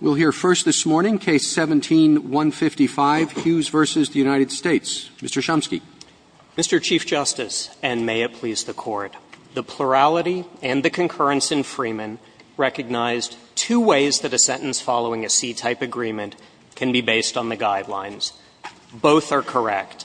We'll hear first this morning Case 17-155, Hughes v. United States. Mr. Chomsky. Mr. Chief Justice, and may it please the Court, the plurality and the concurrence in Freeman recognized two ways that a sentence following a C-type agreement can be based on the guidelines. Both are correct.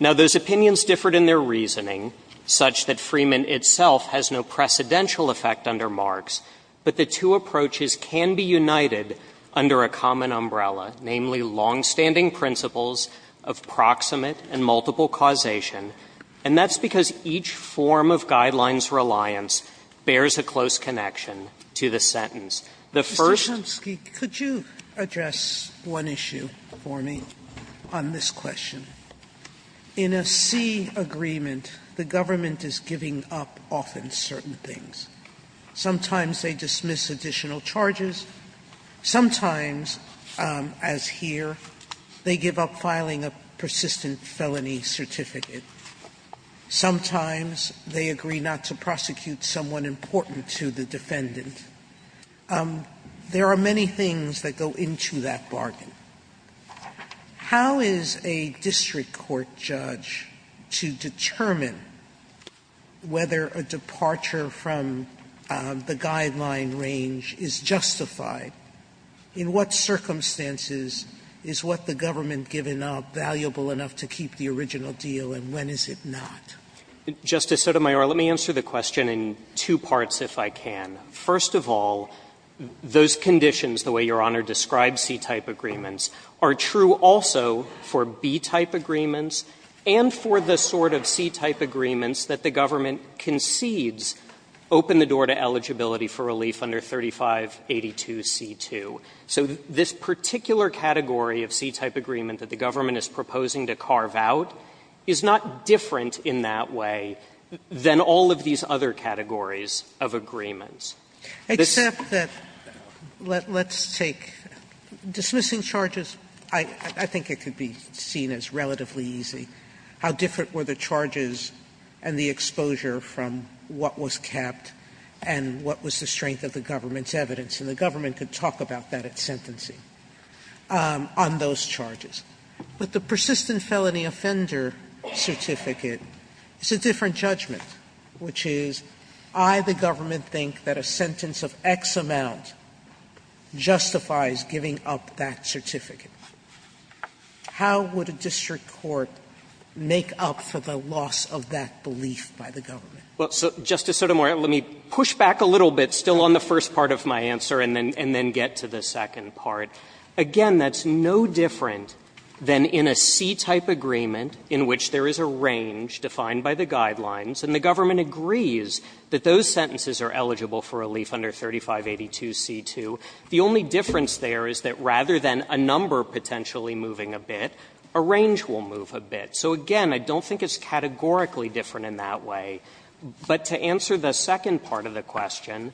Now, those opinions differed in their reasoning, such that Freeman itself has no precedential effect under Marx, but the two approaches can be united under a common umbrella, namely, longstanding principles of proximate and multiple causation, and that's because each form of guidelines reliance bears a close connection to the sentence. The first Mr. Chomsky, could you address one issue for me on this question? In a C agreement, the government is giving up often certain things. Sometimes they dismiss additional charges. Sometimes, as here, they give up filing a persistent felony certificate. Sometimes they agree not to prosecute someone important to the defendant. There are many things that go into that bargain. How is a district court judge to determine whether a departure from the guideline range is justified? In what circumstances is what the government giving up valuable enough to keep the original deal, and when is it not? Justice Sotomayor, let me answer the question in two parts, if I can. First of all, those conditions, the way Your Honor describes C-type agreements, are true also for B-type agreements and for the sort of C-type agreements that the government concedes open the door to eligibility for relief under 3582C2. So this particular category of C-type agreement that the government is proposing to carve out is not different in that way than all of these other categories of agreements. This is not the case. Sotomayor, let's take dismissing charges, I think it could be seen as relatively easy, how different were the charges and the exposure from what was capped and what was the strength of the government's evidence. And the government could talk about that at sentencing, on those charges. But the persistent felony offender certificate is a different judgment, which is I, the government think that a sentence of X amount justifies giving up that certificate. How would a district court make up for the loss of that belief by the government? Well, Justice Sotomayor, let me push back a little bit still on the first part of my answer and then get to the second part. Again, that's no different than in a C-type agreement in which there is a range defined by the guidelines, and the government agrees that those sentences are eligible for relief under 3582c2. The only difference there is that rather than a number potentially moving a bit, a range will move a bit. So again, I don't think it's categorically different in that way. But to answer the second part of the question,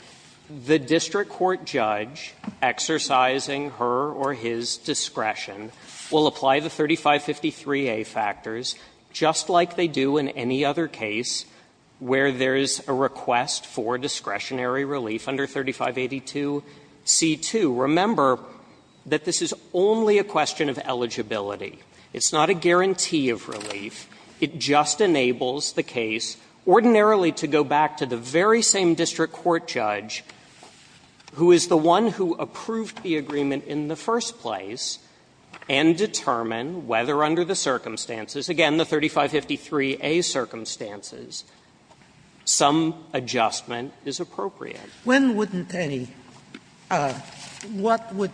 the district court judge exercising her or his discretion will apply the 3553a factors just like they do in a C-type agreement or in any other case where there is a request for discretionary relief under 3582c2. Remember that this is only a question of eligibility. It's not a guarantee of relief. It just enables the case ordinarily to go back to the very same district court judge who is the one who approved the agreement in the first place and determine whether under the circumstances, again, the 3553a circumstances, some adjustment is appropriate. Sotomayor, when wouldn't any? What would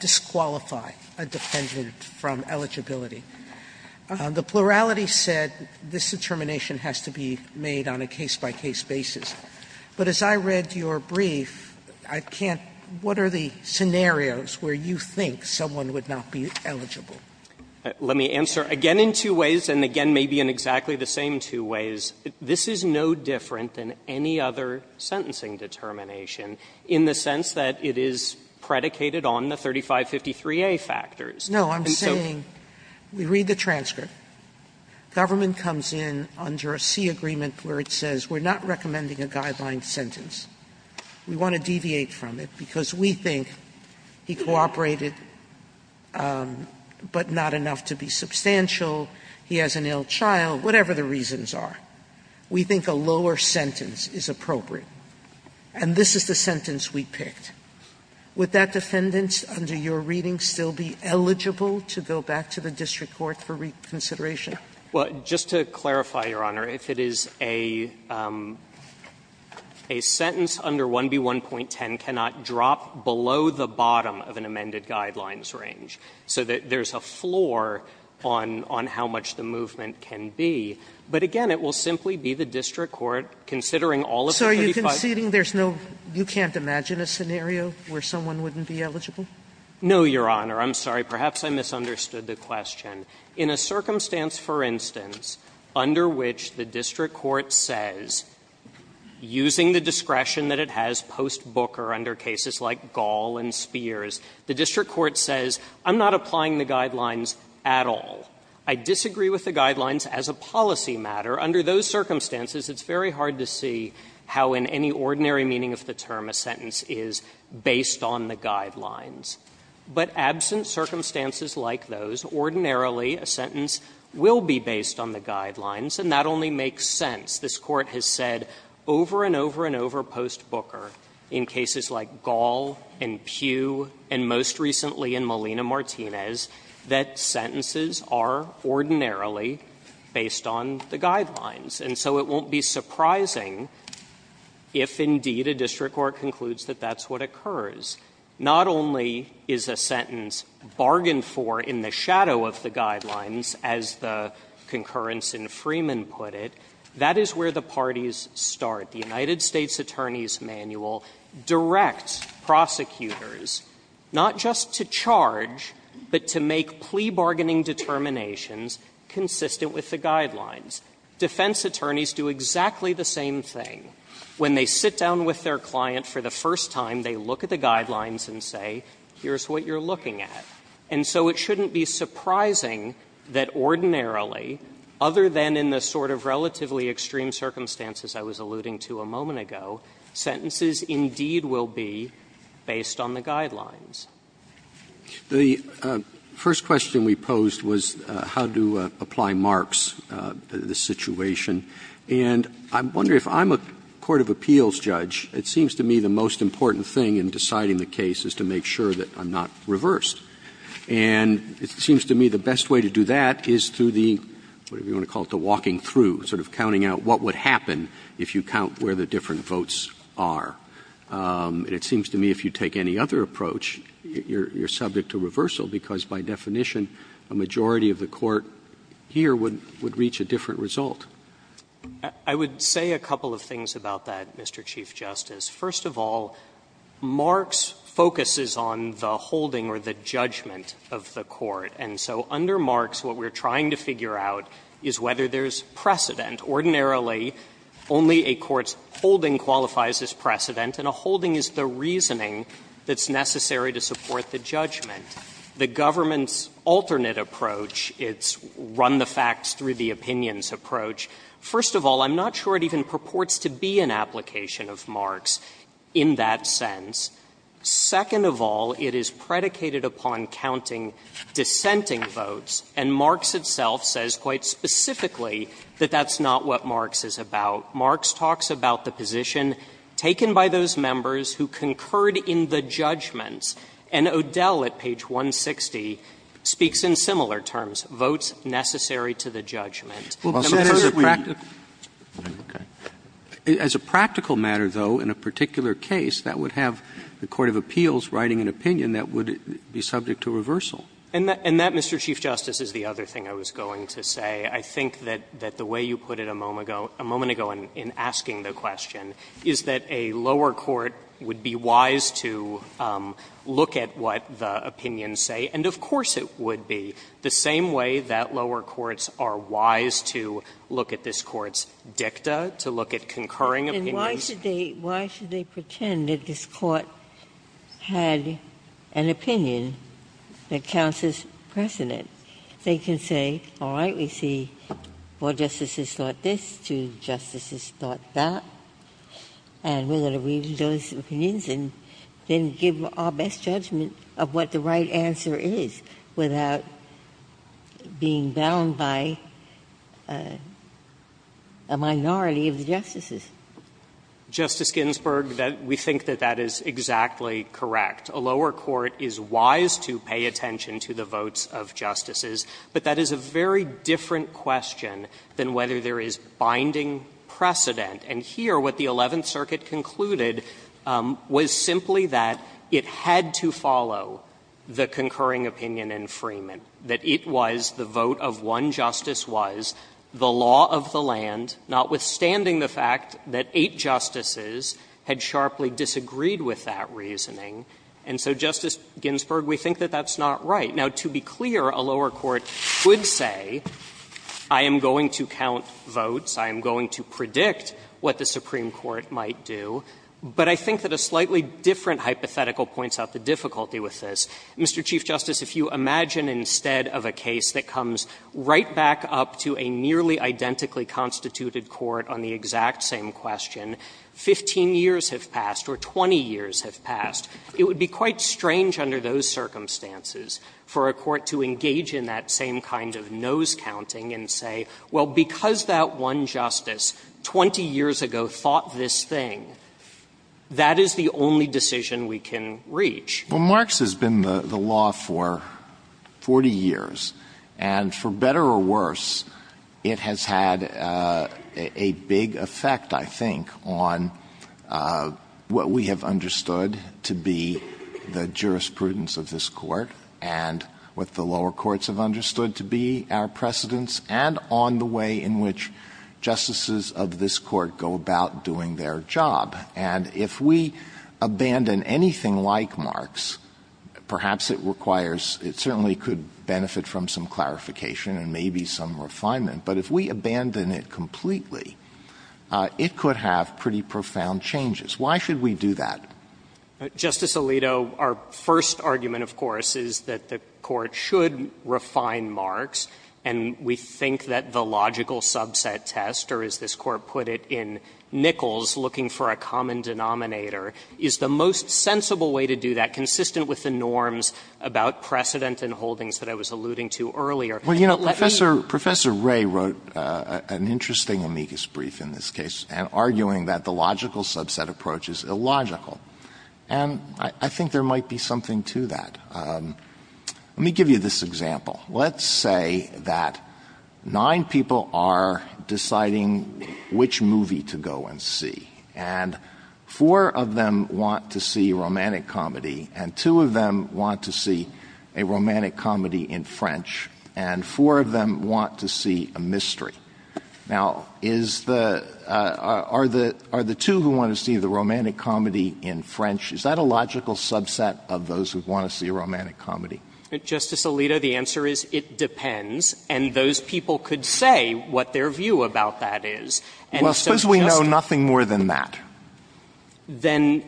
disqualify a defendant from eligibility? The plurality said this determination has to be made on a case-by-case basis. But as I read your brief, I can't — what are the scenarios where you think someone would not be eligible? Let me answer. Again, in two ways, and again, maybe in exactly the same two ways, this is no different than any other sentencing determination in the sense that it is predicated on the 3553a factors. And so we read the transcript, government comes in under a C agreement where it says we are not recommending a guideline sentence. We want to deviate from it because we think he cooperated, but not enough to be substantial. He has an ill child, whatever the reasons are. We think a lower sentence is appropriate. And this is the sentence we picked. Would that defendant under your reading still be eligible to go back to the district court for reconsideration? Well, just to clarify, Your Honor, if it is a sentence under 1B1.10 cannot drop below the bottom of an amended guidelines range, so that there is a floor on how much the movement can be, but again, it will simply be the district court considering all of the 35. So are you conceding there's no — you can't imagine a scenario where someone wouldn't be eligible? No, Your Honor. I'm sorry. Perhaps I misunderstood the question. In a circumstance, for instance, under which the district court says, using the discretion that it has post Booker under cases like Gall and Spears, the district court says, I'm not applying the guidelines at all. I disagree with the guidelines as a policy matter. Under those circumstances, it's very hard to see how in any ordinary meaning of the term a sentence is based on the guidelines. But absent circumstances like those, ordinarily a sentence will be based on the guidelines, and that only makes sense. This Court has said over and over and over post Booker in cases like Gall and Pew and most recently in Melina Martinez that sentences are ordinarily based on the guidelines, and so it won't be surprising if indeed a district court concludes that that's what occurs. Not only is a sentence bargained for in the shadow of the guidelines, as the concurrence in Freeman put it, that is where the parties start. The United States Attorney's Manual directs prosecutors not just to charge, but to make plea bargaining determinations consistent with the guidelines. Defense attorneys do exactly the same thing. When they sit down with their client for the first time, they look at the guidelines and say, here's what you're looking at. And so it shouldn't be surprising that ordinarily, other than in the sort of relatively extreme circumstances I was alluding to a moment ago, sentences indeed will be based on the guidelines. Roberts. The first question we posed was how to apply marks to this situation, and I'm wondering if I'm a court of appeals judge, it seems to me the most important thing in deciding the case is to make sure that I'm not reversed. And it seems to me the best way to do that is through the, whatever you want to call it, the walking through, sort of counting out what would happen if you count where the different votes are. And it seems to me if you take any other approach, you're subject to reversal, because by definition, a majority of the court here would reach a different result. I would say a couple of things about that, Mr. Chief Justice. First of all, marks focuses on the holding or the judgment of the court. And so under marks, what we're trying to figure out is whether there's precedent. Ordinarily, only a court's holding qualifies as precedent, and a holding is the reasoning that's necessary to support the judgment. The government's alternate approach, its run-the-facts-through-the-opinions approach, first of all, I'm not sure it even purports to be an application of marks in that sense. Second of all, it is predicated upon counting dissenting votes, and marks itself says quite specifically that that's not what marks is about. Marks talks about the position taken by those members who concurred in the judgments. And O'Dell at page 160 speaks in similar terms, votes necessary to the judgment. Well, that is a practical – as a practical matter, though, in a particular case, that would have the court of appeals writing an opinion that would be subject to reversal. And that, Mr. Chief Justice, is the other thing I was going to say. I think that the way you put it a moment ago in asking the question is that a lower court would be wise to look at what the opinions say, and of course it would be. The same way that lower courts are wise to look at this Court's dicta, to look at concurring opinions. Ginsburg-Gilliann And why should they – why should they pretend that this Court had an opinion that counts as precedent? They can say, all right, we see four justices thought this, two justices thought that, and we're going to read those opinions and then give our best judgment of what the right answer is without being bound by a minority of the justices. Justice Ginsburg, that – we think that that is exactly correct. A lower court is wise to pay attention to the votes of justices, but that is a very different question than whether there is binding precedent. And here, what the Eleventh Circuit concluded was simply that it had to follow the concurring opinion in Freeman, that it was the vote of one justice was the law of the land, notwithstanding the fact that eight justices had sharply disagreed with that reasoning. And so, Justice Ginsburg, we think that that's not right. Now, to be clear, a lower court could say, I am going to count votes, I am going to predict what the Supreme Court might do, but I think that a slightly different hypothetical points out the difficulty with this. Mr. Chief Justice, if you imagine instead of a case that comes right back up to a nearly identically constituted court on the exact same question, 15 years have passed or 20 years have passed, it would be quite strange under those circumstances for a court to engage in that same kind of nose counting and say, well, because that one justice 20 years ago thought this thing, that is the only decision we can reach. Well, Marx has been the law for 40 years, and for better or worse, it has had a big effect, I think, on what we have understood to be the jurisprudence of this Court and what the lower courts have understood to be our precedents and on the way in which justices of this Court go about doing their job. And if we abandon anything like Marx, perhaps it requires — it certainly could benefit from some clarification and maybe some refinement, but if we abandon it completely, it could have pretty profound changes. Why should we do that? Justice Alito, our first argument, of course, is that the Court should refine Marx, and we think that the logical subset test, or as this Court put it, in Nichols, looking for a common denominator, is the most sensible way to do that, consistent with the norms about precedent and holdings that I was alluding to earlier. Let me— Alito, Professor Ray wrote an interesting amicus brief in this case, arguing that the logical subset approach is illogical. And I think there might be something to that. Let me give you this example. Let's say that nine people are deciding which movie to go and see, and four of them want to see a romantic comedy, and two of them want to see a romantic comedy in French, and four of them want to see a mystery. Now, is the — are the two who want to see the romantic comedy in French, is that a logical subset of those who want to see a romantic comedy? Justice Alito, the answer is it depends, and those people could say what their view about that is. And so just— Well, suppose we know nothing more than that. Then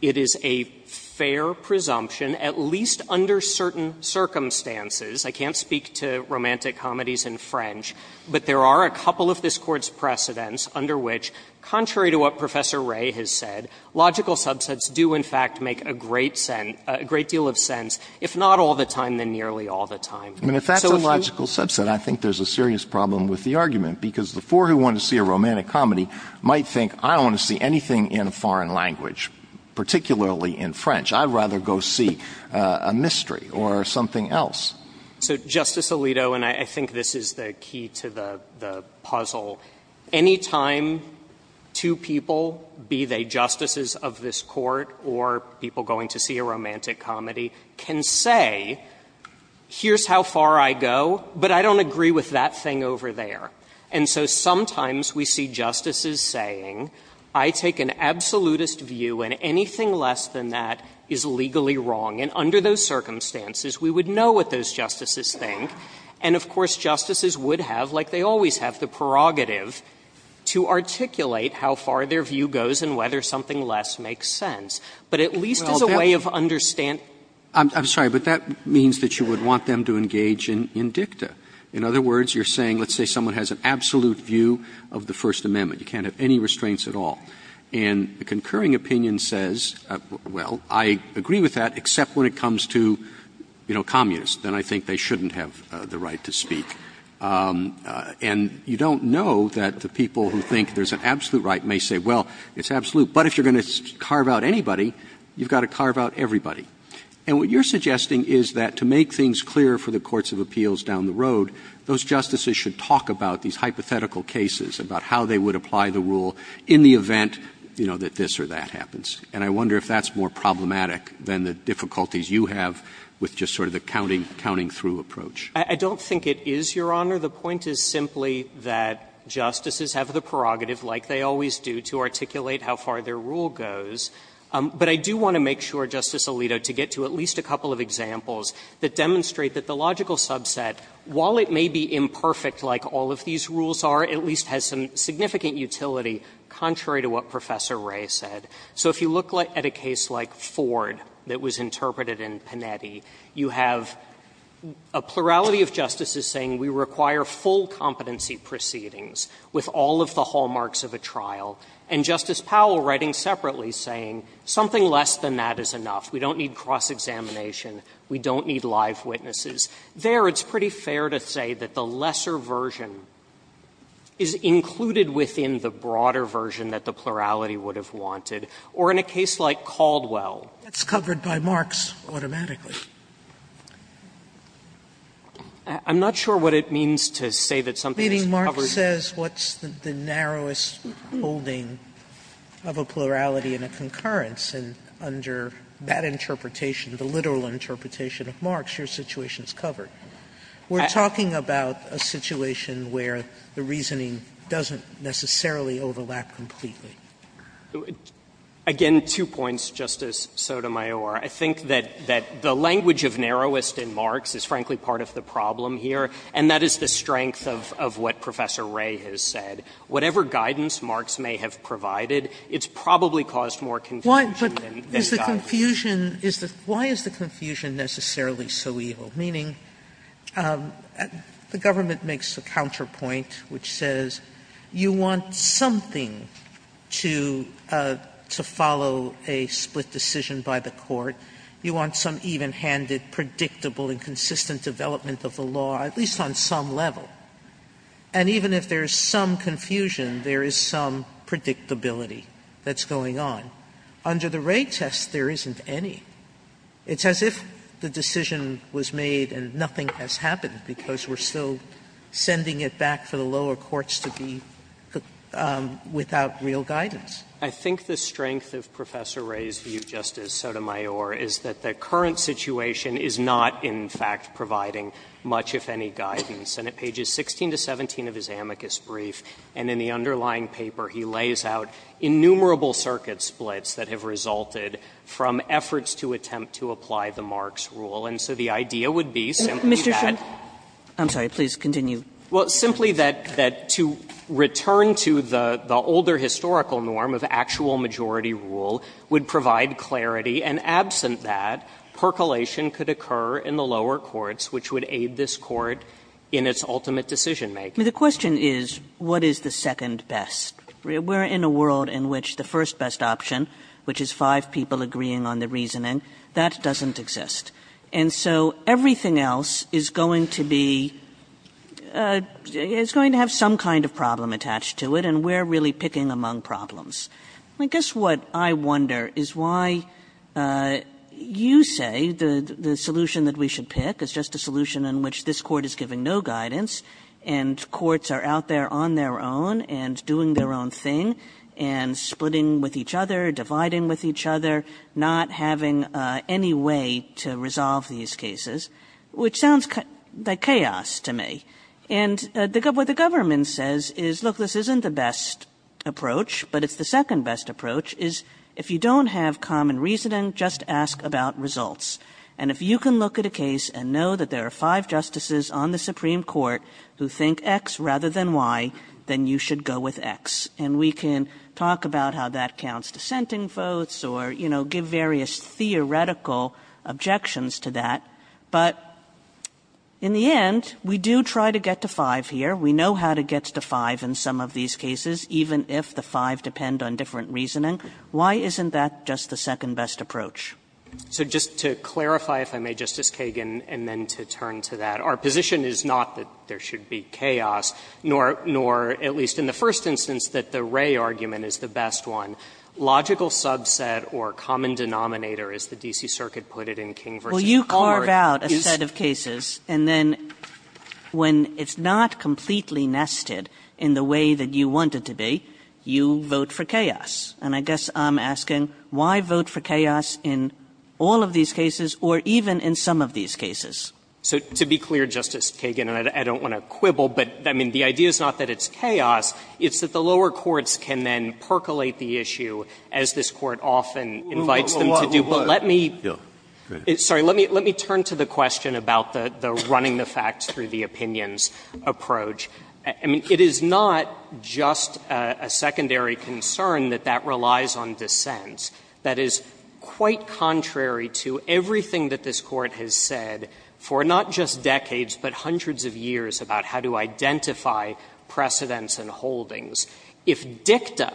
it is a fair presumption, at least under certain circumstances. I can't speak to romantic comedies in French, but there are a couple of this Court's precedents under which, contrary to what Professor Ray has said, logical subsets do in fact make a great sense — a great deal of sense. If not all the time, then nearly all the time. And if that's a logical subset, I think there's a serious problem with the argument, because the four who want to see a romantic comedy might think, I don't want to see anything in a foreign language, particularly in French. I'd rather go see a mystery or something else. So, Justice Alito, and I think this is the key to the puzzle, any time two people, be they justices of this Court or people going to see a romantic comedy, can say, here's how far I go, but I don't agree with that thing over there. And so sometimes we see justices saying, I take an absolutist view, and anything less than that is legally wrong. And under those circumstances, we would know what those justices think, and of course, justices would have, like they always have, the prerogative to articulate how far their view goes and whether something less makes sense. But at least as a way of understanding — JUSTICE ALITO I'm sorry, but that means that you would want them to engage in dicta. In other words, you're saying, let's say someone has an absolute view of the First Amendment, you can't have any restraints at all, and a concurring opinion says, well, I agree with that, except when it comes to, you know, communists, then I think they shouldn't have the right to speak. And you don't know that the people who think there's an absolute right may say, well, it's absolute, but if you're going to carve out anybody, you've got to carve out everybody. And what you're suggesting is that to make things clear for the courts of appeals down the road, those justices should talk about these hypothetical cases, about how they would apply the rule in the event, you know, that this or that happens. And I wonder if that's more problematic than the difficulties you have with just sort of the counting through approach. I don't think it is, Your Honor. The point is simply that justices have the prerogative, like they always do, to articulate how far their rule goes. But I do want to make sure, Justice Alito, to get to at least a couple of examples that demonstrate that the logical subset, while it may be imperfect like all of these rules are, at least has some significant utility contrary to what Professor Wray said. So if you look at a case like Ford that was interpreted in Panetti, you have a plurality of justices saying we require full competency proceedings with all of the hallmarks of a trial, and Justice Powell writing separately saying something less than that is enough, we don't need cross-examination, we don't need live witnesses, there it's pretty fair to say that the lesser version is included within the broader version that the plurality would have wanted. Or in a case like Caldwell. Sotomayor, that's covered by Marx automatically. I'm not sure what it means to say that something is covered. Meaning Marx says what's the narrowest holding of a plurality in a concurrence, and under that interpretation, the literal interpretation of Marx, your situation is covered. We're talking about a situation where the reasoning doesn't necessarily overlap completely. Watts Again, two points, Justice Sotomayor. I think that the language of narrowest in Marx is, frankly, part of the problem here, and that is the strength of what Professor Wray has said. Whatever guidance Marx may have provided, it's probably caused more confusion than it's gotten. Sotomayor Why is the confusion necessarily so evil? Meaning the government makes the counterpoint which says you want something to follow a split decision by the court. You want some even-handed, predictable and consistent development of the law, at least on some level. And even if there's some confusion, there is some predictability that's going on. Under the Wray test, there isn't any. It's as if the decision was made and nothing has happened, because we're still sending it back for the lower courts to be without real guidance. Watts I think the strength of Professor Wray's view, Justice Sotomayor, is that the current situation is not, in fact, providing much, if any, guidance. And at pages 16 to 17 of his amicus brief and in the underlying paper, he lays out innumerable circuit splits that have resulted from efforts to attempt to apply the Marx rule. And so the idea would be simply that. Kagan I'm sorry. Please continue. Watts Well, simply that to return to the older historical norm of actual majority rule would provide clarity, and absent that, percolation could occur in the lower courts, which would aid this Court in its ultimate decision-making. Kagan The question is, what is the second best? We're in a world in which the first best option, which is five people agreeing on the reasoning, that doesn't exist. And so everything else is going to be, is going to have some kind of problem attached to it, and we're really picking among problems. I guess what I wonder is why you say the solution that we should pick is just a solution in which this Court is giving no guidance, and courts are out there on their own and doing their own thing, and splitting with each other, dividing with each other, not having any way to resolve these cases, which sounds like chaos to me. And what the government says is, look, this isn't the best approach, but it's the second best approach, is if you don't have common reasoning, just ask about results. And if you can look at a case and know that there are five justices on the Supreme Court who think X rather than Y, then you should go with X. And we can talk about how that counts dissenting votes, or, you know, give various theoretical objections to that. But in the end, we do try to get to five here. We know how to get to five in some of these cases, even if the five depend on different reasoning. Why isn't that just the second best approach? So just to clarify, if I may, Justice Kagan, and then to turn to that, our position is not that there should be chaos, nor at least in the first instance, that the Ray argument is the best one. Logical subset or common denominator, as the D.C. Circuit put it in King v. McCormack is... Kagan Well, you carve out a set of cases. And then when it's not completely nested in the way that you want it to be, you vote for chaos. And I guess I'm asking, why vote for chaos in all of these cases or even in some of these cases. So to be clear, Justice Kagan, and I don't want to quibble, but I mean, the idea is not that it's chaos. It's that the lower courts can then percolate the issue, as this Court often invites them to do. But let me... Sorry, let me turn to the question about the running the facts through the opinions approach. I mean, it is not just a secondary concern that that relies on dissent. That is quite contrary to everything that this Court has said for not just decades, but hundreds of years about how to identify precedents and holdings. If dicta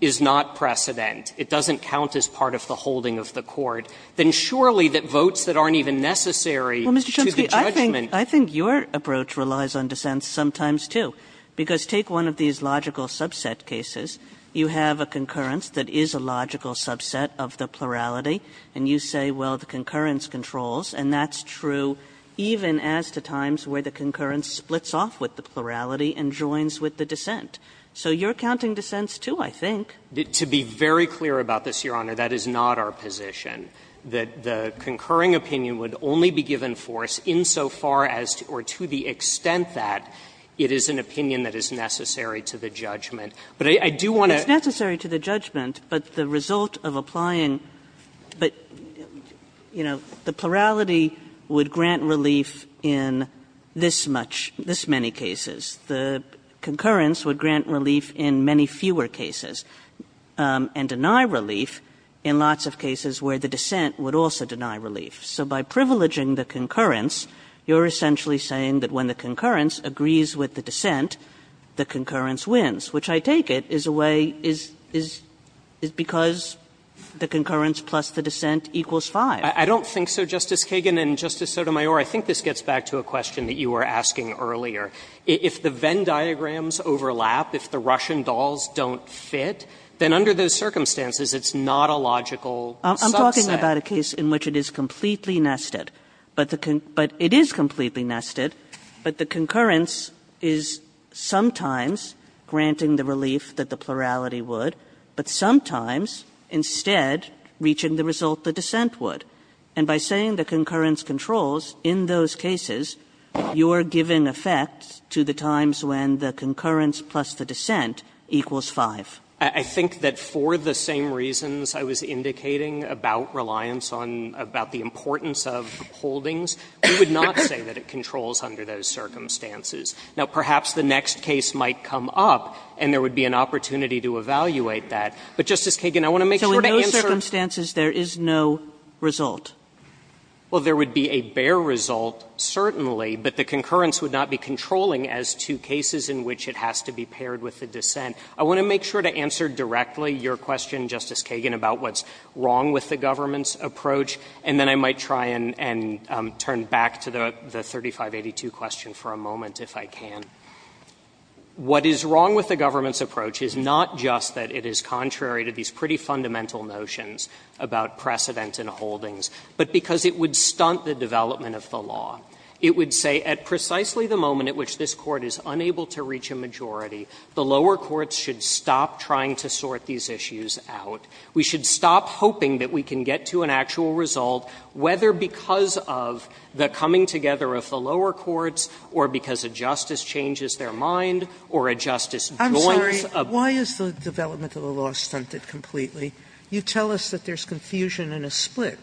is not precedent, it doesn't count as part of the holding of the Court, then surely that votes that aren't even necessary to the judgment... Kagan Well, Mr. Chomsky, I think your approach relies on dissent sometimes, too. Because take one of these logical subset cases. You have a concurrence that is a logical subset of the plurality, and you say, well, the concurrence controls, and that's true even as to times where the concurrence splits off with the plurality and joins with the dissent. So you're counting dissents, too, I think. Chomsky To be very clear about this, Your Honor, that is not our position, that the concurring opinion would only be given force insofar as or to the extent that it is an opinion that is necessary to the judgment. But I do want to... Kagan It's necessary to the judgment, but the result of applying the plurality would grant relief in this much, this many cases. The concurrence would grant relief in many fewer cases and deny relief in lots of cases where the dissent would also deny relief. So by privileging the concurrence, you're essentially saying that when the concurrence agrees with the dissent, the concurrence wins, which I take it is a way, is, is, is because the concurrence plus the dissent equals 5. Chomsky I don't think so, Justice Kagan, and, Justice Sotomayor, I think this gets back to a question that you were asking earlier. If the Venn diagrams overlap, if the Russian dolls don't fit, then under those circumstances it's not a logical subset. Kagan I'm talking about a case in which it is completely nested, but the con, but it is completely nested, but the concurrence is sometimes granting the relief that the plurality would, but sometimes, instead, reaching the result the dissent would. And by saying the concurrence controls, in those cases, you're giving effect to the times when the concurrence plus the dissent equals 5. Chomsky I think that for the same reasons I was indicating about reliance on, about the importance of holdings, we would not say that it controls under those circumstances. Now, perhaps the next case might come up, and there would be an opportunity to evaluate that. But, Justice Kagan, I want to make sure to answer the question. Kagan So in those circumstances, there is no result? Chomsky Well, there would be a bare result, certainly, but the concurrence would not be controlling as to cases in which it has to be paired with the dissent. I want to make sure to answer directly your question, Justice Kagan, about what's wrong with the government's approach, and then I might try and turn back to the 3582 question for a moment, if I can. What is wrong with the government's approach is not just that it is contrary to these pretty fundamental notions about precedent and holdings, but because it would stunt the development of the law. It would say at precisely the moment at which this Court is unable to reach a majority, the lower courts should stop trying to sort these issues out. We should stop hoping that we can get to an actual result, whether because of the coming together of the lower courts or because a justice changes their mind or a justice Sotomayor I'm sorry. Why is the development of the law stunted completely? You tell us that there is confusion in a split,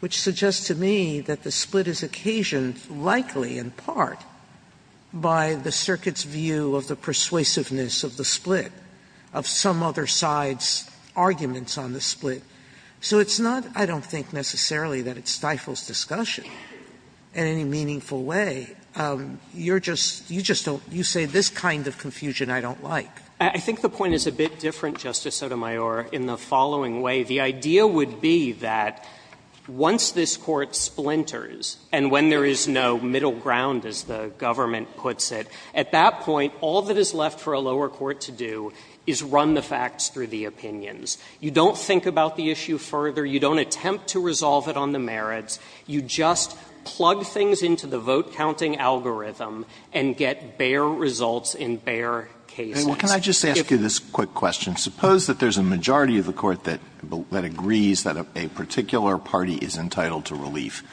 which suggests to me that the split is occasioned likely in part by the circuit's view of the persuasiveness of the split, of some other side's arguments on the split. So it's not, I don't think necessarily that it stifles discussion in any meaningful way. You're just, you just don't, you say this kind of confusion I don't like. I think the point is a bit different, Justice Sotomayor, in the following way. The idea would be that once this Court splinters and when there is no middle ground, as the government puts it, at that point, all that is left for a lower court to do is run the facts through the opinions. You don't think about the issue further. You don't attempt to resolve it on the merits. You just plug things into the vote-counting algorithm and get bare results in bare cases. Alito Can I just ask you this quick question? Suppose that there is a majority of the Court that agrees that a particular party is entitled to relief,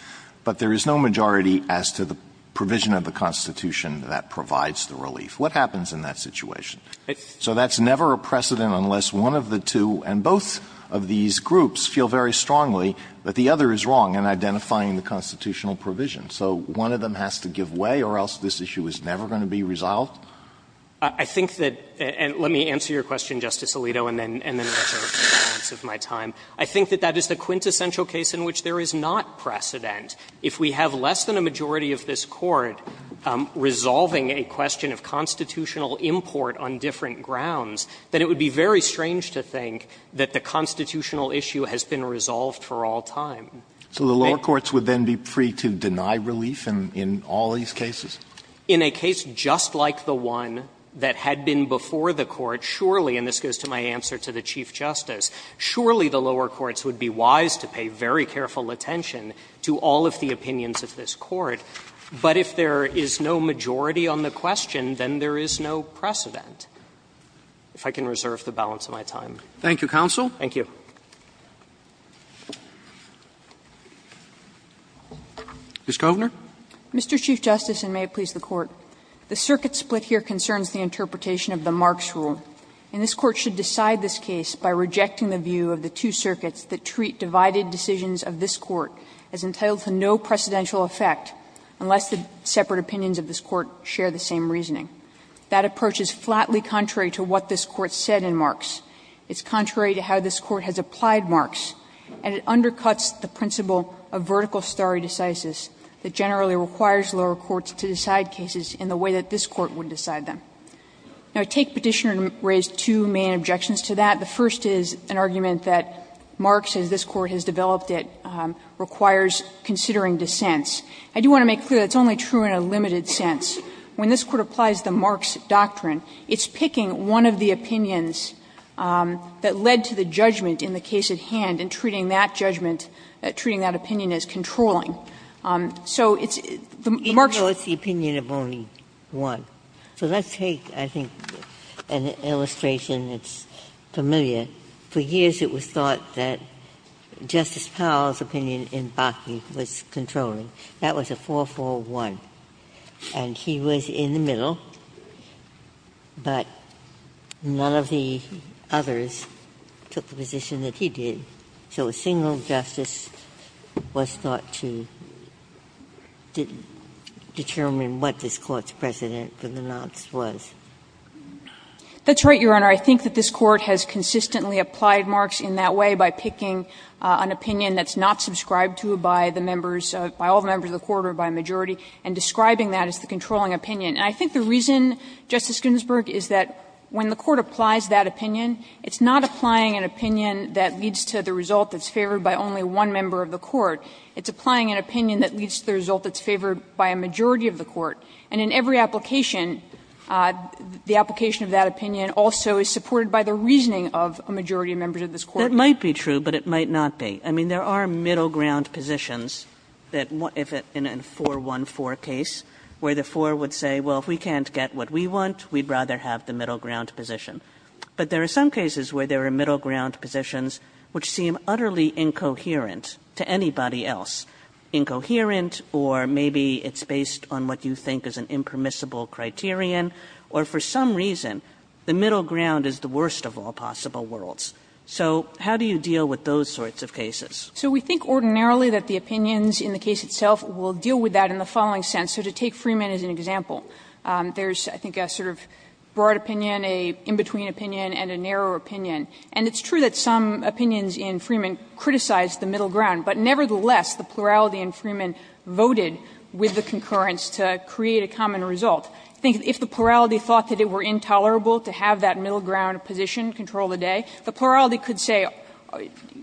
but there is no majority as to the provision of the Constitution that provides the relief. What happens in that situation? So that's never a precedent unless one of the two, and both of these groups, feel very strongly that the other is wrong in identifying the constitutional provision. So one of them has to give way or else this issue is never going to be resolved? I think that, and let me answer your question, Justice Alito, and then I'll turn to the rest of my time. I think that that is the quintessential case in which there is not precedent. If we have less than a majority of this Court resolving a question of constitutional import on different grounds, then it would be very strange to think that the constitutional issue has been resolved for all time. So the lower courts would then be free to deny relief in all these cases? In a case just like the one that had been before the Court, surely, and this goes to my answer to the Chief Justice, surely the lower courts would be wise to pay very little attention to all of the opinions of this Court, but if there is no majority on the question, then there is no precedent, if I can reserve the balance of my time. Thank you, counsel. Thank you. Ms. Kovner. Mr. Chief Justice, and may it please the Court, the circuit split here concerns the interpretation of the Marx rule, and this Court should decide this case by rejecting the view of the two circuits that treat divided decisions of this Court as entitled to no precedential effect, unless the separate opinions of this Court share the same reasoning. That approach is flatly contrary to what this Court said in Marx. It's contrary to how this Court has applied Marx, and it undercuts the principle of vertical stare decisis that generally requires lower courts to decide cases in the way that this Court would decide them. Now, I take Petitioner to raise two main objections to that. The first is an argument that Marx, as this Court has developed it, requires considering dissents. I do want to make clear that it's only true in a limited sense. When this Court applies the Marx doctrine, it's picking one of the opinions that led to the judgment in the case at hand and treating that judgment, treating that opinion as controlling. So it's the Marx. Ginsburg's opinion of only one. So let's take, I think, an illustration that's familiar. For years it was thought that Justice Powell's opinion in Bakke was controlling. That was a 4-4-1. And he was in the middle, but none of the others took the position that he did. So a single justice was thought to determine what this Court's precedent for the Marx was. That's right, Your Honor. I think that this Court has consistently applied Marx in that way by picking an opinion that's not subscribed to by the members, by all the members of the Court or by a majority, and describing that as the controlling opinion. And I think the reason, Justice Ginsburg, is that when the Court applies that opinion, it's not applying an opinion that leads to the result that's favored by only one member of the Court. It's applying an opinion that leads to the result that's favored by a majority of the Court. And in every application, the application of that opinion also is supported by the reasoning of a majority of members of this Court. Kagan. Kagan. Kagan. But it might not be. I mean, there are middle ground positions that, in a 4-1-4 case, where the 4 would say, well, if we can't get what we want, we'd rather have the middle ground position. But there are some cases where there are middle ground positions which seem utterly incoherent to anybody else, incoherent or maybe it's based on what you think is an impermissible criterion, or for some reason, the middle ground is the worst of all possible worlds. So how do you deal with those sorts of cases? So we think ordinarily that the opinions in the case itself will deal with that in the following sense. So to take Freeman as an example, there's, I think, a sort of broad opinion, an in-between opinion, and a narrow opinion. And it's true that some opinions in Freeman criticized the middle ground, but nevertheless, the plurality in Freeman voted with the concurrence to create a common result. I think if the plurality thought that it were intolerable to have that middle ground position control the day, the plurality could say,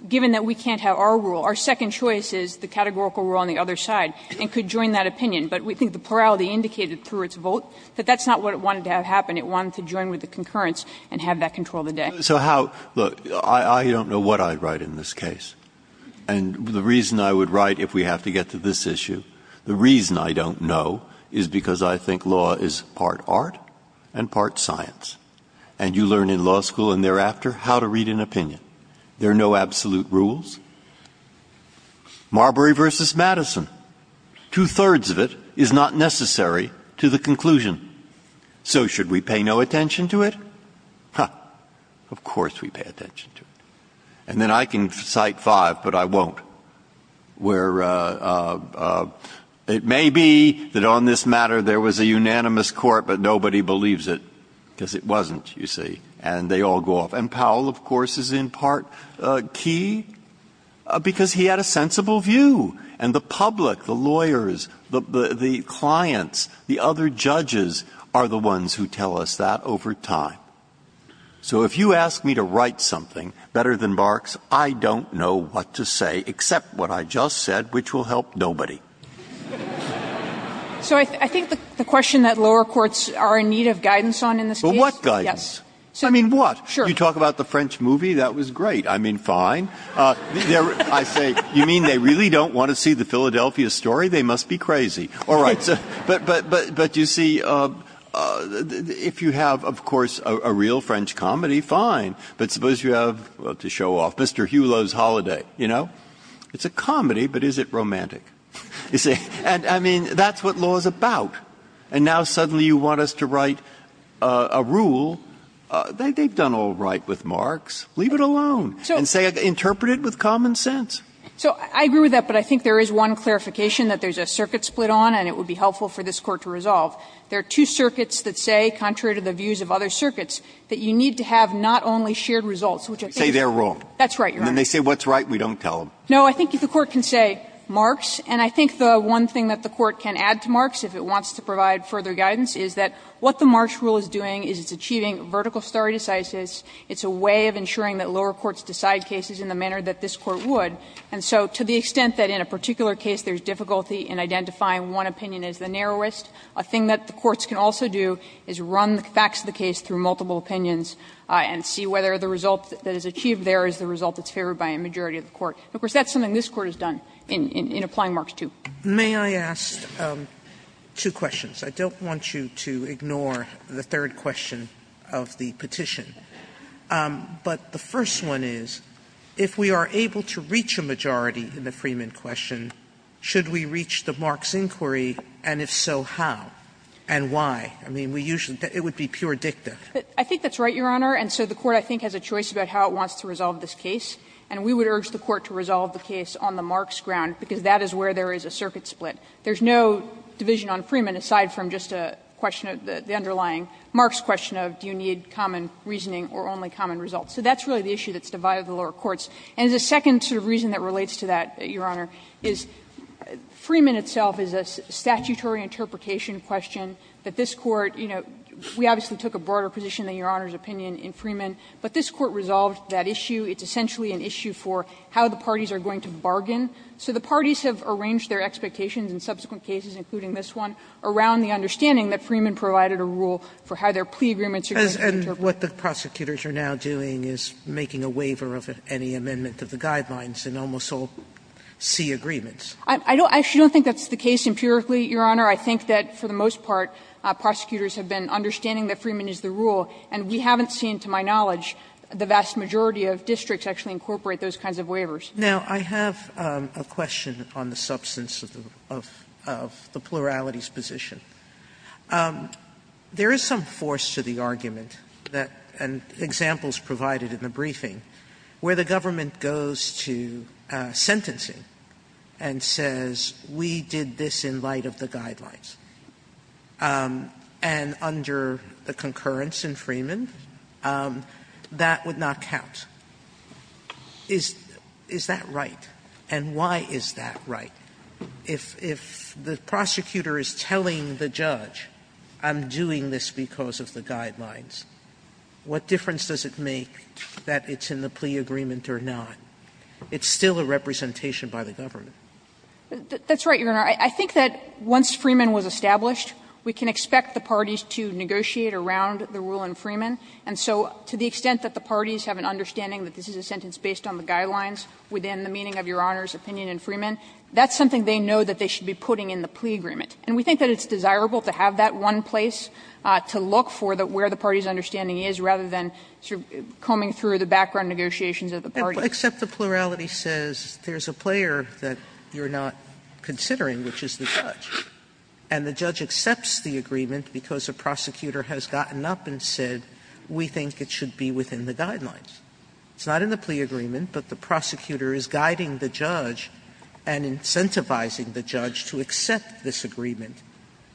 given that we can't have our rule, our second choice is the categorical rule on the other side, and could join that opinion. But we think the plurality indicated through its vote that that's not what it wanted to have happen. It wanted to join with the concurrence and have that control the day. Breyer. So how – look, I don't know what I'd write in this case. And the reason I would write, if we have to get to this issue, the reason I don't know is because I think law is part art and part science. And you learn in law school and thereafter how to read an opinion. There are no absolute rules. Marbury v. Madison, two-thirds of it is not necessary to the conclusion. So should we pay no attention to it? Huh. Of course we pay attention to it. And then I can cite five, but I won't, where it may be that on this matter there was a unanimous court, but nobody believes it because it wasn't, you see. And they all go off. And Powell, of course, is in part key because he had a sensible view. And the public, the lawyers, the clients, the other judges are the ones who tell us that over time. So if you ask me to write something better than Barks, I don't know what to say except what I just said, which will help nobody. So I think the question that lower courts are in need of guidance on in this case – But what guidance? I mean, what? You talk about the French movie. That was great. I mean, fine. I say, you mean they really don't want to see the Philadelphia story? They must be crazy. All right. But you see, if you have, of course, a real French comedy, fine. But suppose you have, well, to show off, Mr. Hulot's Holiday, you know? It's a comedy, but is it romantic? And I mean, that's what law is about. And now suddenly you want us to write a rule. They've done all right with Marks. Leave it alone. And say it, interpret it with common sense. So I agree with that, but I think there is one clarification that there's a circuit split on, and it would be helpful for this Court to resolve. There are two circuits that say, contrary to the views of other circuits, that you need to have not only shared results, which I think is wrong. Say they're wrong. That's right, Your Honor. Then they say what's right, and we don't tell them. No, I think the Court can say Marks. And I think the one thing that the Court can add to Marks, if it wants to provide further guidance, is that what the Marks rule is doing is it's achieving vertical stare decisis. It's a way of ensuring that lower courts decide cases in the manner that this Court would. And so to the extent that in a particular case there's difficulty in identifying one opinion as the narrowest, a thing that the courts can also do is run the facts of the case through multiple opinions and see whether the result that is achieved there is the result that's favored by a majority of the court. Of course, that's something this Court has done in applying Marks II. Sotomayor May I ask two questions? I don't want you to ignore the third question of the petition. But the first one is, if we are able to reach a majority in the Freeman question, should we reach the Marks inquiry, and if so, how, and why? I mean, we usually do. It would be pure dicta. I think that's right, Your Honor. And so the Court, I think, has a choice about how it wants to resolve this case. And we would urge the Court to resolve the case on the Marks ground, because that is where there is a circuit split. There's no division on Freeman aside from just a question of the underlying Marks question of do you need common reasoning or only common results. So that's really the issue that's divided the lower courts. And the second sort of reason that relates to that, Your Honor, is Freeman itself is a statutory interpretation question that this Court, you know, we obviously took a broader position than Your Honor's opinion in Freeman, but this Court resolved that issue. It's essentially an issue for how the parties are going to bargain. So the parties have arranged their expectations in subsequent cases, including this one, around the understanding that Freeman provided a rule for how their plea agreements are going to be interpreted. Sotomayor, and what the prosecutors are now doing is making a waiver of any amendment of the guidelines in almost all C agreements. I don't think that's the case empirically, Your Honor. I think that for the most part, prosecutors have been understanding that Freeman is the rule, and we haven't seen, to my knowledge, the vast majority of districts actually incorporate those kinds of waivers. Sotomayor, I have a question on the substance of the plurality's position. There is some force to the argument that – and examples provided in the briefing – where the government goes to sentencing and says, we did this in light of the guidelines. And under the concurrence in Freeman, that would not count. Is that right? And why is that right? If the prosecutor is telling the judge, I'm doing this because of the guidelines, what difference does it make that it's in the plea agreement or not? It's still a representation by the government. That's right, Your Honor. I think that once Freeman was established, we can expect the parties to negotiate around the rule in Freeman. And so to the extent that the parties have an understanding that this is a sentence based on the guidelines within the meaning of Your Honor's opinion in Freeman, that's something they know that they should be putting in the plea agreement. And we think that it's desirable to have that one place to look for where the party's understanding is, rather than sort of combing through the background negotiations of the parties. Sotomayor, except the plurality says there's a player that you're not considering, which is the judge. And the judge accepts the agreement because a prosecutor has gotten up and said, we think it should be within the guidelines. It's not in the plea agreement, but the prosecutor is guiding the judge and incentivizing the judge to accept this agreement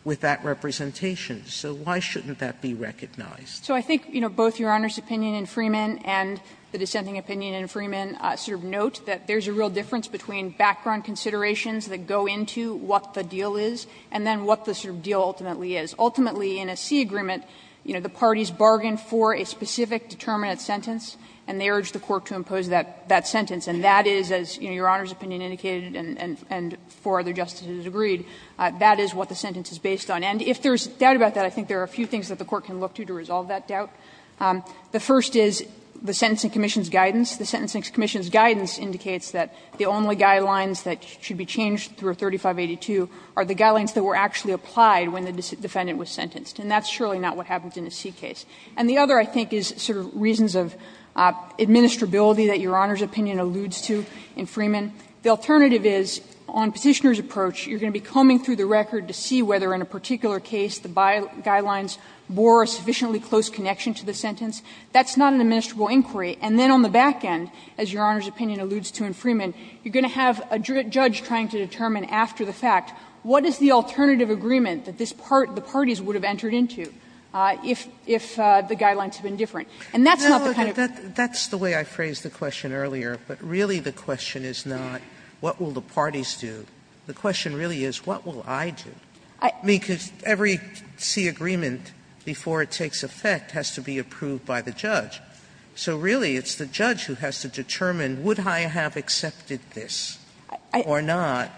with that representation. So why shouldn't that be recognized? So I think, you know, both Your Honor's opinion in Freeman and the dissenting opinion in Freeman sort of note that there's a real difference between background considerations that go into what the deal is and then what the sort of deal ultimately is. Ultimately, in a C agreement, you know, the parties bargain for a specific determinate sentence, and they urge the court to impose that sentence. And that is, as, you know, Your Honor's opinion indicated and four other justices agreed, that is what the sentence is based on. And if there's doubt about that, I think there are a few things that the court can look to to resolve that doubt. The first is the Sentencing Commission's guidance. The Sentencing Commission's guidance indicates that the only guidelines that should be changed through 3582 are the guidelines that were actually applied when the defendant was sentenced. And that's surely not what happens in a C case. And the other, I think, is sort of reasons of administrability that Your Honor's opinion alludes to in Freeman. The alternative is on Petitioner's approach, you're going to be combing through the record to see whether in a particular case the guidelines bore a sufficiently close connection to the sentence. That's not an administrable inquiry. And then on the back end, as Your Honor's opinion alludes to in Freeman, you're going to have a judge trying to determine after the fact what is the alternative agreement that this part, the parties, would have entered into if the guidelines have been different. And that's not the kind of thing that's the way I phrased the question earlier, but really the question is not what will the parties do. The question really is what will I do? I mean, because every C agreement before it takes effect has to be approved by the judge. So really it's the judge who has to determine would I have accepted this or not,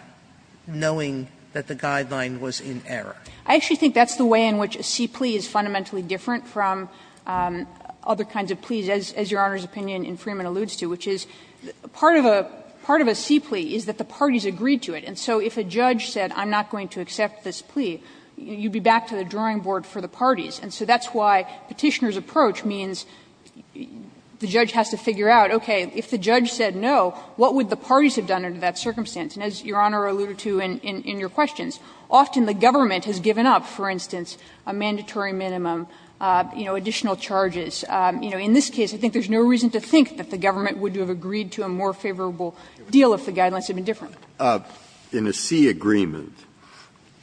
knowing that the guideline was in error. Kagan. I actually think that's the way in which a C plea is fundamentally different from other kinds of pleas, as Your Honor's opinion in Freeman alludes to, which is part of a C plea is that the parties agreed to it. And so if a judge said I'm not going to accept this plea, you'd be back to the drawing board for the parties. And so that's why Petitioner's approach means the judge has to figure out, okay, if the judge said no, what would the parties have done under that circumstance? And as Your Honor alluded to in your questions, often the government has given up, for instance, a mandatory minimum, you know, additional charges. You know, in this case, I think there's no reason to think that the government would have agreed to a more favorable deal if the guidelines had been different. Breyer. In a C agreement,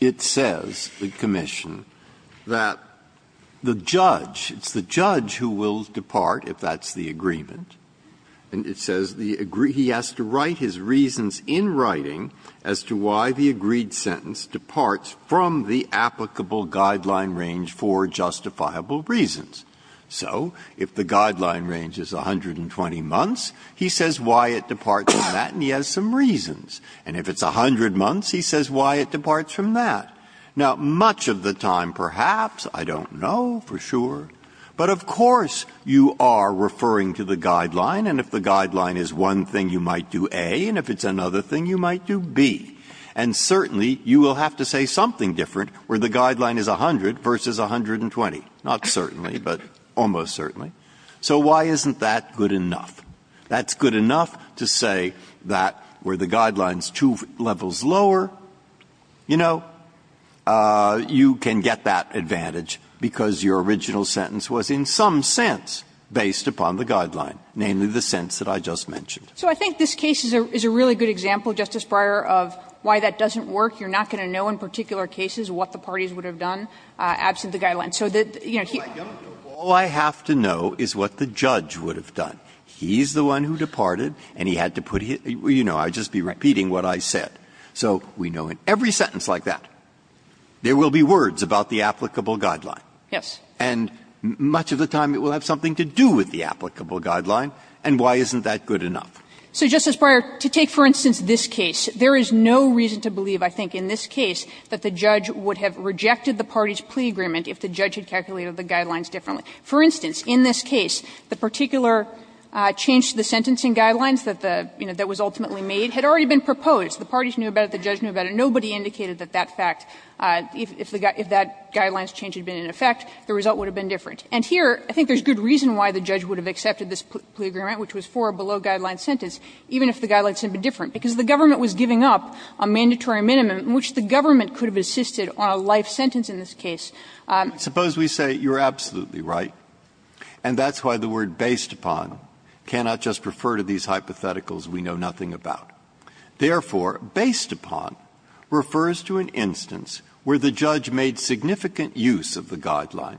it says, the commission, that the judge, it's the judge who will depart, if that's the agreement, and it says the he has to write his reasons in writing as to why the agreed sentence departs from the applicable guideline range for justifiable reasons. So if the guideline range is 120 months, he says why it departs from that, and he has some reasons. And if it's 100 months, he says why it departs from that. Now, much of the time, perhaps, I don't know for sure, but of course you are referring to the guideline, and if the guideline is one thing, you might do A, and if it's another thing, you might do B. And certainly, you will have to say something different where the guideline is 100 versus 120, not certainly, but almost certainly. So why isn't that good enough? That's good enough to say that where the guideline is two levels lower, you know, you can get that advantage because your original sentence was in some sense based upon the guideline, namely the sense that I just mentioned. So I think this case is a really good example, Justice Breyer, of why that doesn't work. You are not going to know in particular cases what the parties would have done absent the guideline. So the, you know, he's All I have to know is what the judge would have done. He's the one who departed, and he had to put his, you know, I'd just be repeating what I said. So we know in every sentence like that, there will be words about the applicable guideline. Yes. And much of the time, it will have something to do with the applicable guideline, and why isn't that good enough? So, Justice Breyer, to take, for instance, this case, there is no reason to believe, I think, in this case, that the judge would have rejected the parties' plea agreement if the judge had calculated the guidelines differently. For instance, in this case, the particular change to the sentencing guidelines that the, you know, that was ultimately made had already been proposed. The parties knew about it, the judge knew about it, nobody indicated that that fact if that guideline's change had been in effect, the result would have been different. And here, I think there's good reason why the judge would have accepted this plea agreement, which was for a below-guideline sentence, even if the guidelines had been different, because the government was giving up a mandatory minimum in which the government could have assisted on a life sentence in this case. Breyer, Suppose we say, you're absolutely right, and that's why the word ''based upon'' cannot just refer to these hypotheticals we know nothing about. Therefore, ''based upon'' refers to an instance where the judge made significant use of the guideline,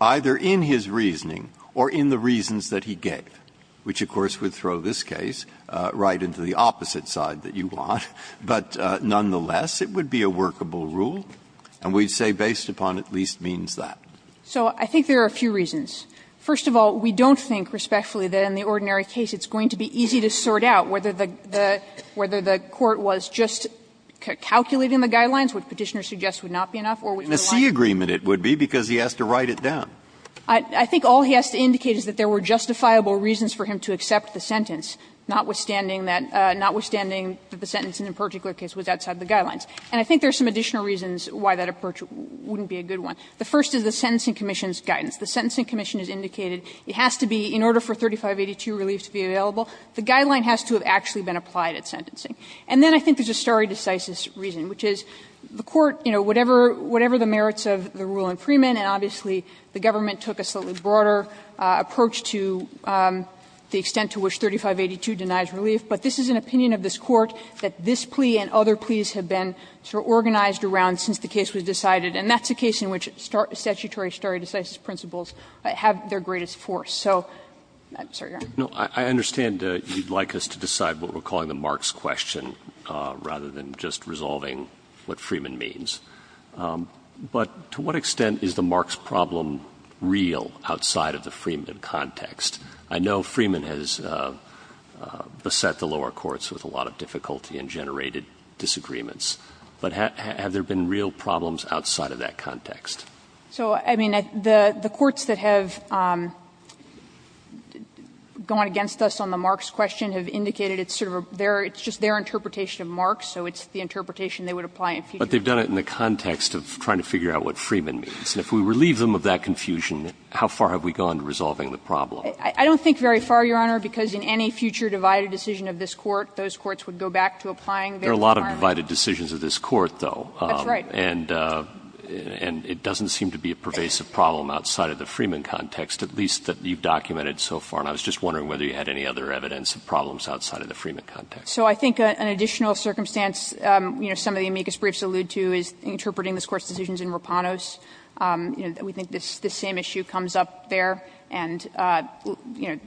either in his reasoning or in the reasons that he gave, which, of course, would throw this case right into the opposite side that you want. But nonetheless, it would be a workable rule, and we'd say ''based upon'' at least means that. So I think there are a few reasons. First of all, we don't think respectfully that in the ordinary case it's going to be easy to sort out whether the court was just calculating the guidelines, which Petitioner suggests would not be enough, or which would not be enough. And a C agreement it would be, because he has to write it down. I think all he has to indicate is that there were justifiable reasons for him to accept the sentence, notwithstanding that the sentence in a particular case was outside the guidelines. And I think there are some additional reasons why that approach wouldn't be a good one. The first is the Sentencing Commission's guidance. The Sentencing Commission has indicated it has to be, in order for 3582 relief to be available, the guideline has to have actually been applied at sentencing. And then I think there's a stare decisis reason, which is the court, you know, whatever the merits of the rule in Freeman, and obviously the government took a slightly which 3582 denies relief. But this is an opinion of this Court that this plea and other pleas have been sort of organized around since the case was decided, and that's a case in which statutory stare decisis principles have their greatest force. So, I'm sorry, Your Honor. Roberts. I understand you'd like us to decide what we're calling the Marx question, rather than just resolving what Freeman means. But to what extent is the Marx problem real outside of the Freeman context? I know Freeman has beset the lower courts with a lot of difficulty and generated disagreements. But have there been real problems outside of that context? So, I mean, the courts that have gone against us on the Marx question have indicated it's sort of their – it's just their interpretation of Marx, so it's the interpretation they would apply in future. But they've done it in the context of trying to figure out what Freeman means. And if we relieve them of that confusion, how far have we gone to resolving the problem? I don't think very far, Your Honor, because in any future divided decision of this court, those courts would go back to applying their requirement. There are a lot of divided decisions of this court, though. That's right. And it doesn't seem to be a pervasive problem outside of the Freeman context, at least that you've documented so far. And I was just wondering whether you had any other evidence of problems outside of the Freeman context. So I think an additional circumstance, you know, some of the amicus briefs allude to is interpreting this Court's decisions in Rapanos. You know, we think this same issue comes up there, and, you know,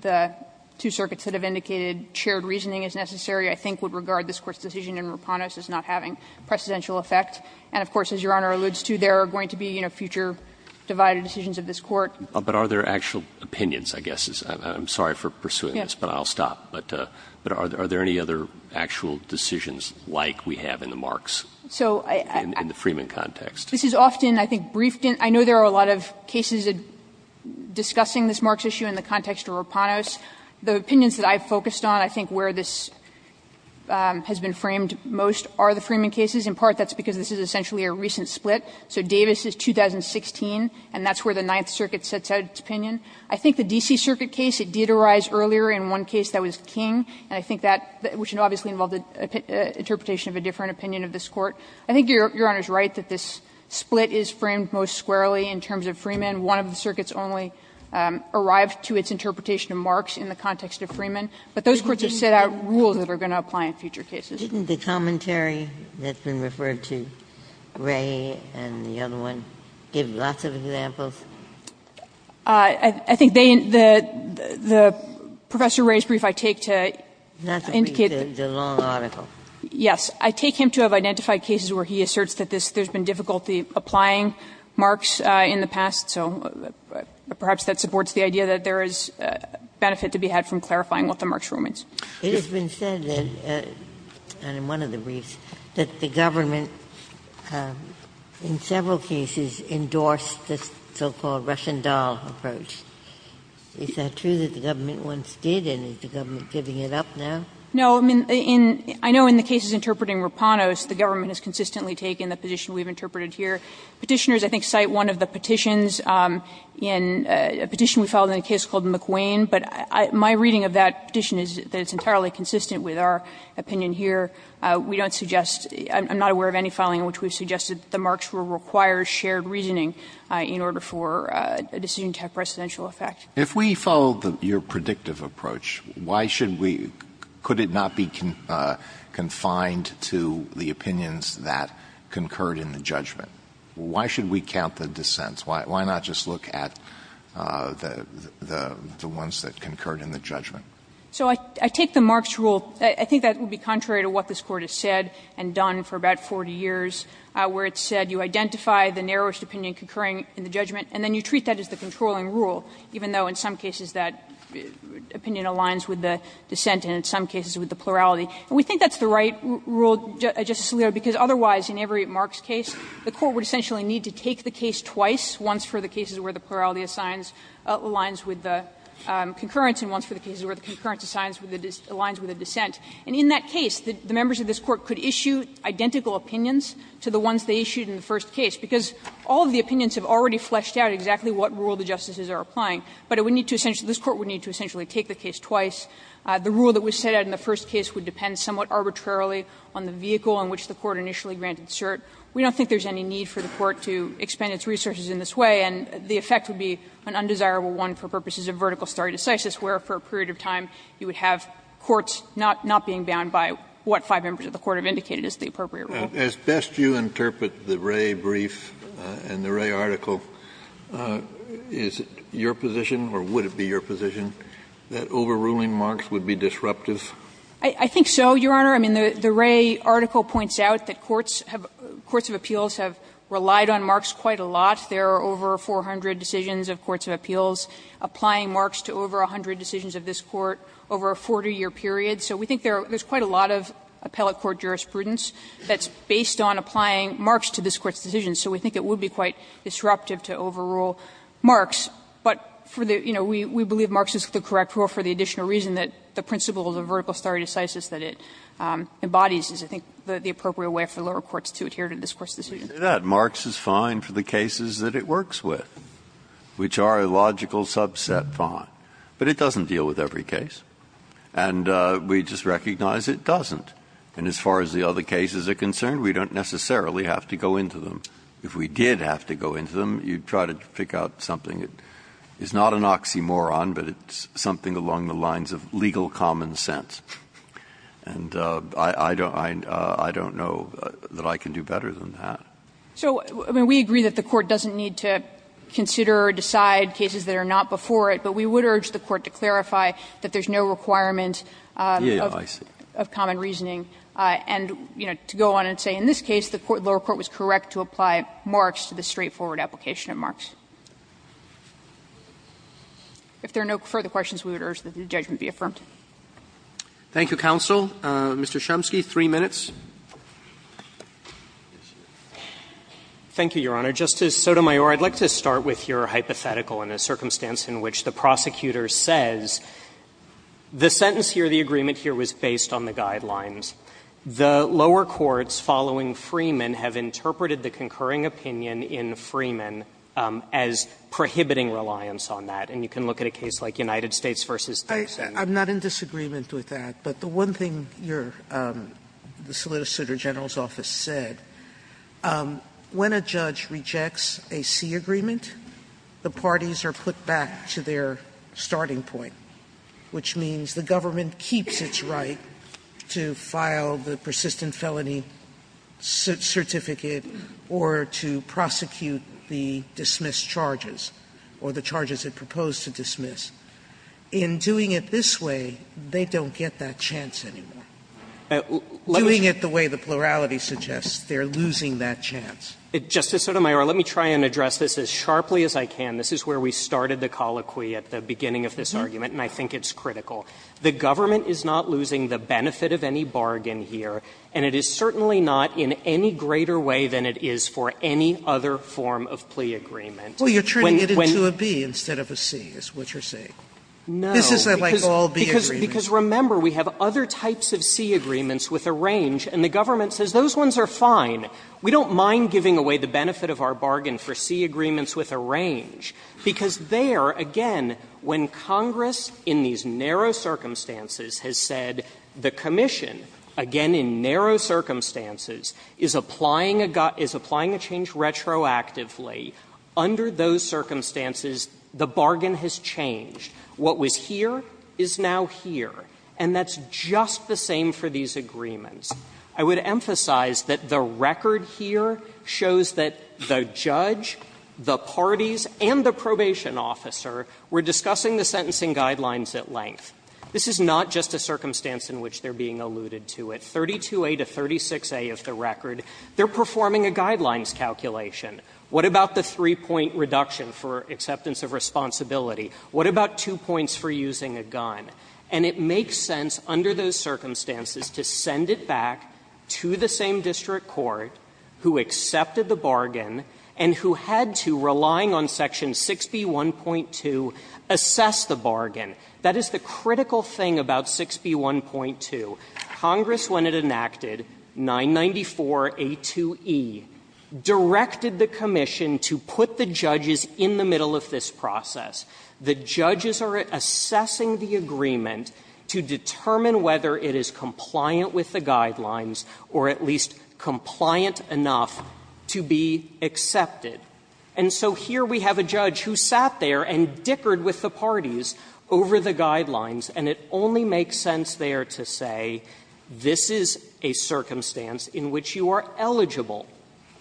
the two circuits that have indicated shared reasoning is necessary, I think, would regard this Court's decision in Rapanos as not having precedential effect. And of course, as Your Honor alludes to, there are going to be, you know, future divided decisions of this court. But are there actual opinions, I guess, I'm sorry for pursuing this, but I'll stop. But are there any other actual decisions like we have in the Marx, in the Freeman context? This is often, I think, briefed in – I know there are a lot of cases discussing this Marx issue in the context of Rapanos. The opinions that I've focused on, I think, where this has been framed most are the Freeman cases. In part, that's because this is essentially a recent split. So Davis is 2016, and that's where the Ninth Circuit sets out its opinion. I think the D.C. Circuit case, it did arise earlier in one case that was King, and I think that – which obviously involved an interpretation of a different opinion of this Court. I think Your Honor is right that this split is framed most squarely in terms of Freeman. One of the circuits only arrived to its interpretation of Marx in the context of Freeman. But those courts have set out rules that are going to apply in future cases. Ginsburg. Didn't the commentary that's been referred to, Ray and the other one, give lots of examples? I think they – the Professor Ray's brief I take to indicate that – Not to read the long article. Yes. I take him to have identified cases where he asserts that this – there's been difficulty applying Marx in the past, so perhaps that supports the idea that there is benefit to be had from clarifying what the Marx rule means. It has been said that – and in one of the briefs – that the government in several cases endorsed this so-called Russian doll approach. Is that true that the government once did, and is the government giving it up now? No. I mean, in – I know in the cases interpreting Rapanos, the government has consistently taken the position we've interpreted here. Petitioners, I think, cite one of the petitions in – a petition we filed in a case called McWane, but my reading of that petition is that it's entirely consistent with our opinion here. We don't suggest – I'm not aware of any filing in which we've suggested that the Marx rule requires shared reasoning in order for a decision to have precedential effect. If we follow the – your predictive approach, why should we – could it not be confined to the opinions that concurred in the judgment? Why should we count the dissents? Why not just look at the – the ones that concurred in the judgment? So I take the Marx rule – I think that would be contrary to what this Court has said and done for about 40 years, where it said you identify the narrowest opinion concurring in the judgment, and then you treat that as the controlling rule, even though in some cases that opinion aligns with the dissent and in some cases with the plurality. And we think that's the right rule, Justice Alito, because otherwise in every Marx case, the Court would essentially need to take the case twice, once for the cases where the plurality aligns with the concurrence and once for the cases where the concurrence aligns with the dissent. And in that case, the members of this Court could issue identical opinions to the ones they issued in the first case, because all of the opinions have already fleshed out exactly what rule the justices are applying. But it would need to essentially – this Court would need to essentially take the case twice. The rule that was set out in the first case would depend somewhat arbitrarily on the vehicle on which the Court initially granted cert. We don't think there's any need for the Court to expend its resources in this way, and the effect would be an undesirable one for purposes of vertical stare decisis, where for a period of time you would have courts not being bound by what five members of the Court have indicated as the appropriate rule. Kennedy, as best you interpret the Wray brief and the Wray article, is it your position or would it be your position that overruling Marx would be disruptive? I think so, Your Honor. I mean, the Wray article points out that courts have – courts of appeals have relied on Marx quite a lot. There are over 400 decisions of courts of appeals applying Marx to over 100 decisions of this Court over a 40-year period. So we think there's quite a lot of appellate court jurisprudence that's based on applying Marx to this Court's decisions, so we think it would be quite disruptive to overrule Marx. But for the – you know, we believe Marx is the correct rule for the additional reason that the principles of vertical stare decisis that it embodies is, I think, the appropriate way for lower courts to adhere to this Court's decision. Breyer, Marx is fine for the cases that it works with, which are a logical subset fine, but it doesn't deal with every case. And we just recognize it doesn't. And as far as the other cases are concerned, we don't necessarily have to go into them. If we did have to go into them, you'd try to pick out something that is not an oxymoron, but it's something along the lines of legal common sense. And I don't know that I can do better than that. So, I mean, we agree that the Court doesn't need to consider or decide cases that are not before it, but we would urge the Court to clarify that there's no requirement of common reasoning and, you know, to go on and say, in this case, the lower court was correct to apply Marx to the straightforward application of Marx. If there are no further questions, we would urge that the judgment be affirmed. Thank you, counsel. Mr. Chomsky, three minutes. Thank you, Your Honor. Justice Sotomayor, I'd like to start with your hypothetical in a circumstance in which the prosecutor says the sentence here, the agreement here, was based on the guidelines. The lower courts following Freeman have interpreted the concurring opinion in Freeman as prohibiting reliance on that. And you can look at a case like United States v. Thompson. I'm not in disagreement with that, but the one thing your the Solicitor General's argument is that when a judge rejects a C agreement, the parties are put back to their starting point, which means the government keeps its right to file the persistent felony certificate or to prosecute the dismissed charges, or the charges it proposed to dismiss. In doing it this way, they don't get that chance anymore. Doing it the way the plurality suggests, they're losing that chance. Justice Sotomayor, let me try and address this as sharply as I can. This is where we started the colloquy at the beginning of this argument, and I think it's critical. The government is not losing the benefit of any bargain here, and it is certainly not in any greater way than it is for any other form of plea agreement. Well, you're turning it into a B instead of a C, is what you're saying. No. This is like all B agreements. Because, remember, we have other types of C agreements with a range, and the government says those ones are fine. We don't mind giving away the benefit of our bargain for C agreements with a range, because there, again, when Congress, in these narrow circumstances, has said the Commission, again, in narrow circumstances, is applying a change retroactively, under those circumstances, the bargain has changed. What was here is now here, and that's just the same for these agreements. I would emphasize that the record here shows that the judge, the parties, and the probation officer were discussing the sentencing guidelines at length. This is not just a circumstance in which they're being alluded to. At 32a to 36a of the record, they're performing a guidelines calculation. What about the three-point reduction for acceptance of responsibility? What about two points for using a gun? And it makes sense, under those circumstances, to send it back to the same district court who accepted the bargain and who had to, relying on section 6B1.2, assess the bargain. That is the critical thing about 6B1.2. Congress, when it enacted 994a2e, directed the Commission to put the judges in the middle of this process. The judges are assessing the agreement to determine whether it is compliant with the guidelines or at least compliant enough to be accepted. And so here we have a judge who sat there and dickered with the parties over the guidelines, and it only makes sense there to say this is a circumstance in which you are eligible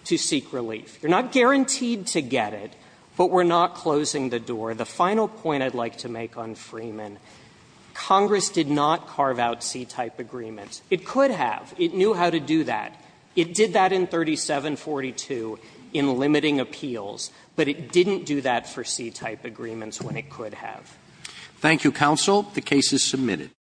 to seek relief. You're not guaranteed to get it, but we're not closing the door. The final point I'd like to make on Freeman, Congress did not carve out C-type agreements. It could have. It knew how to do that. It did that in 3742 in limiting appeals, but it didn't do that for C-type agreements when it could have. Roberts. Thank you, counsel. The case is submitted.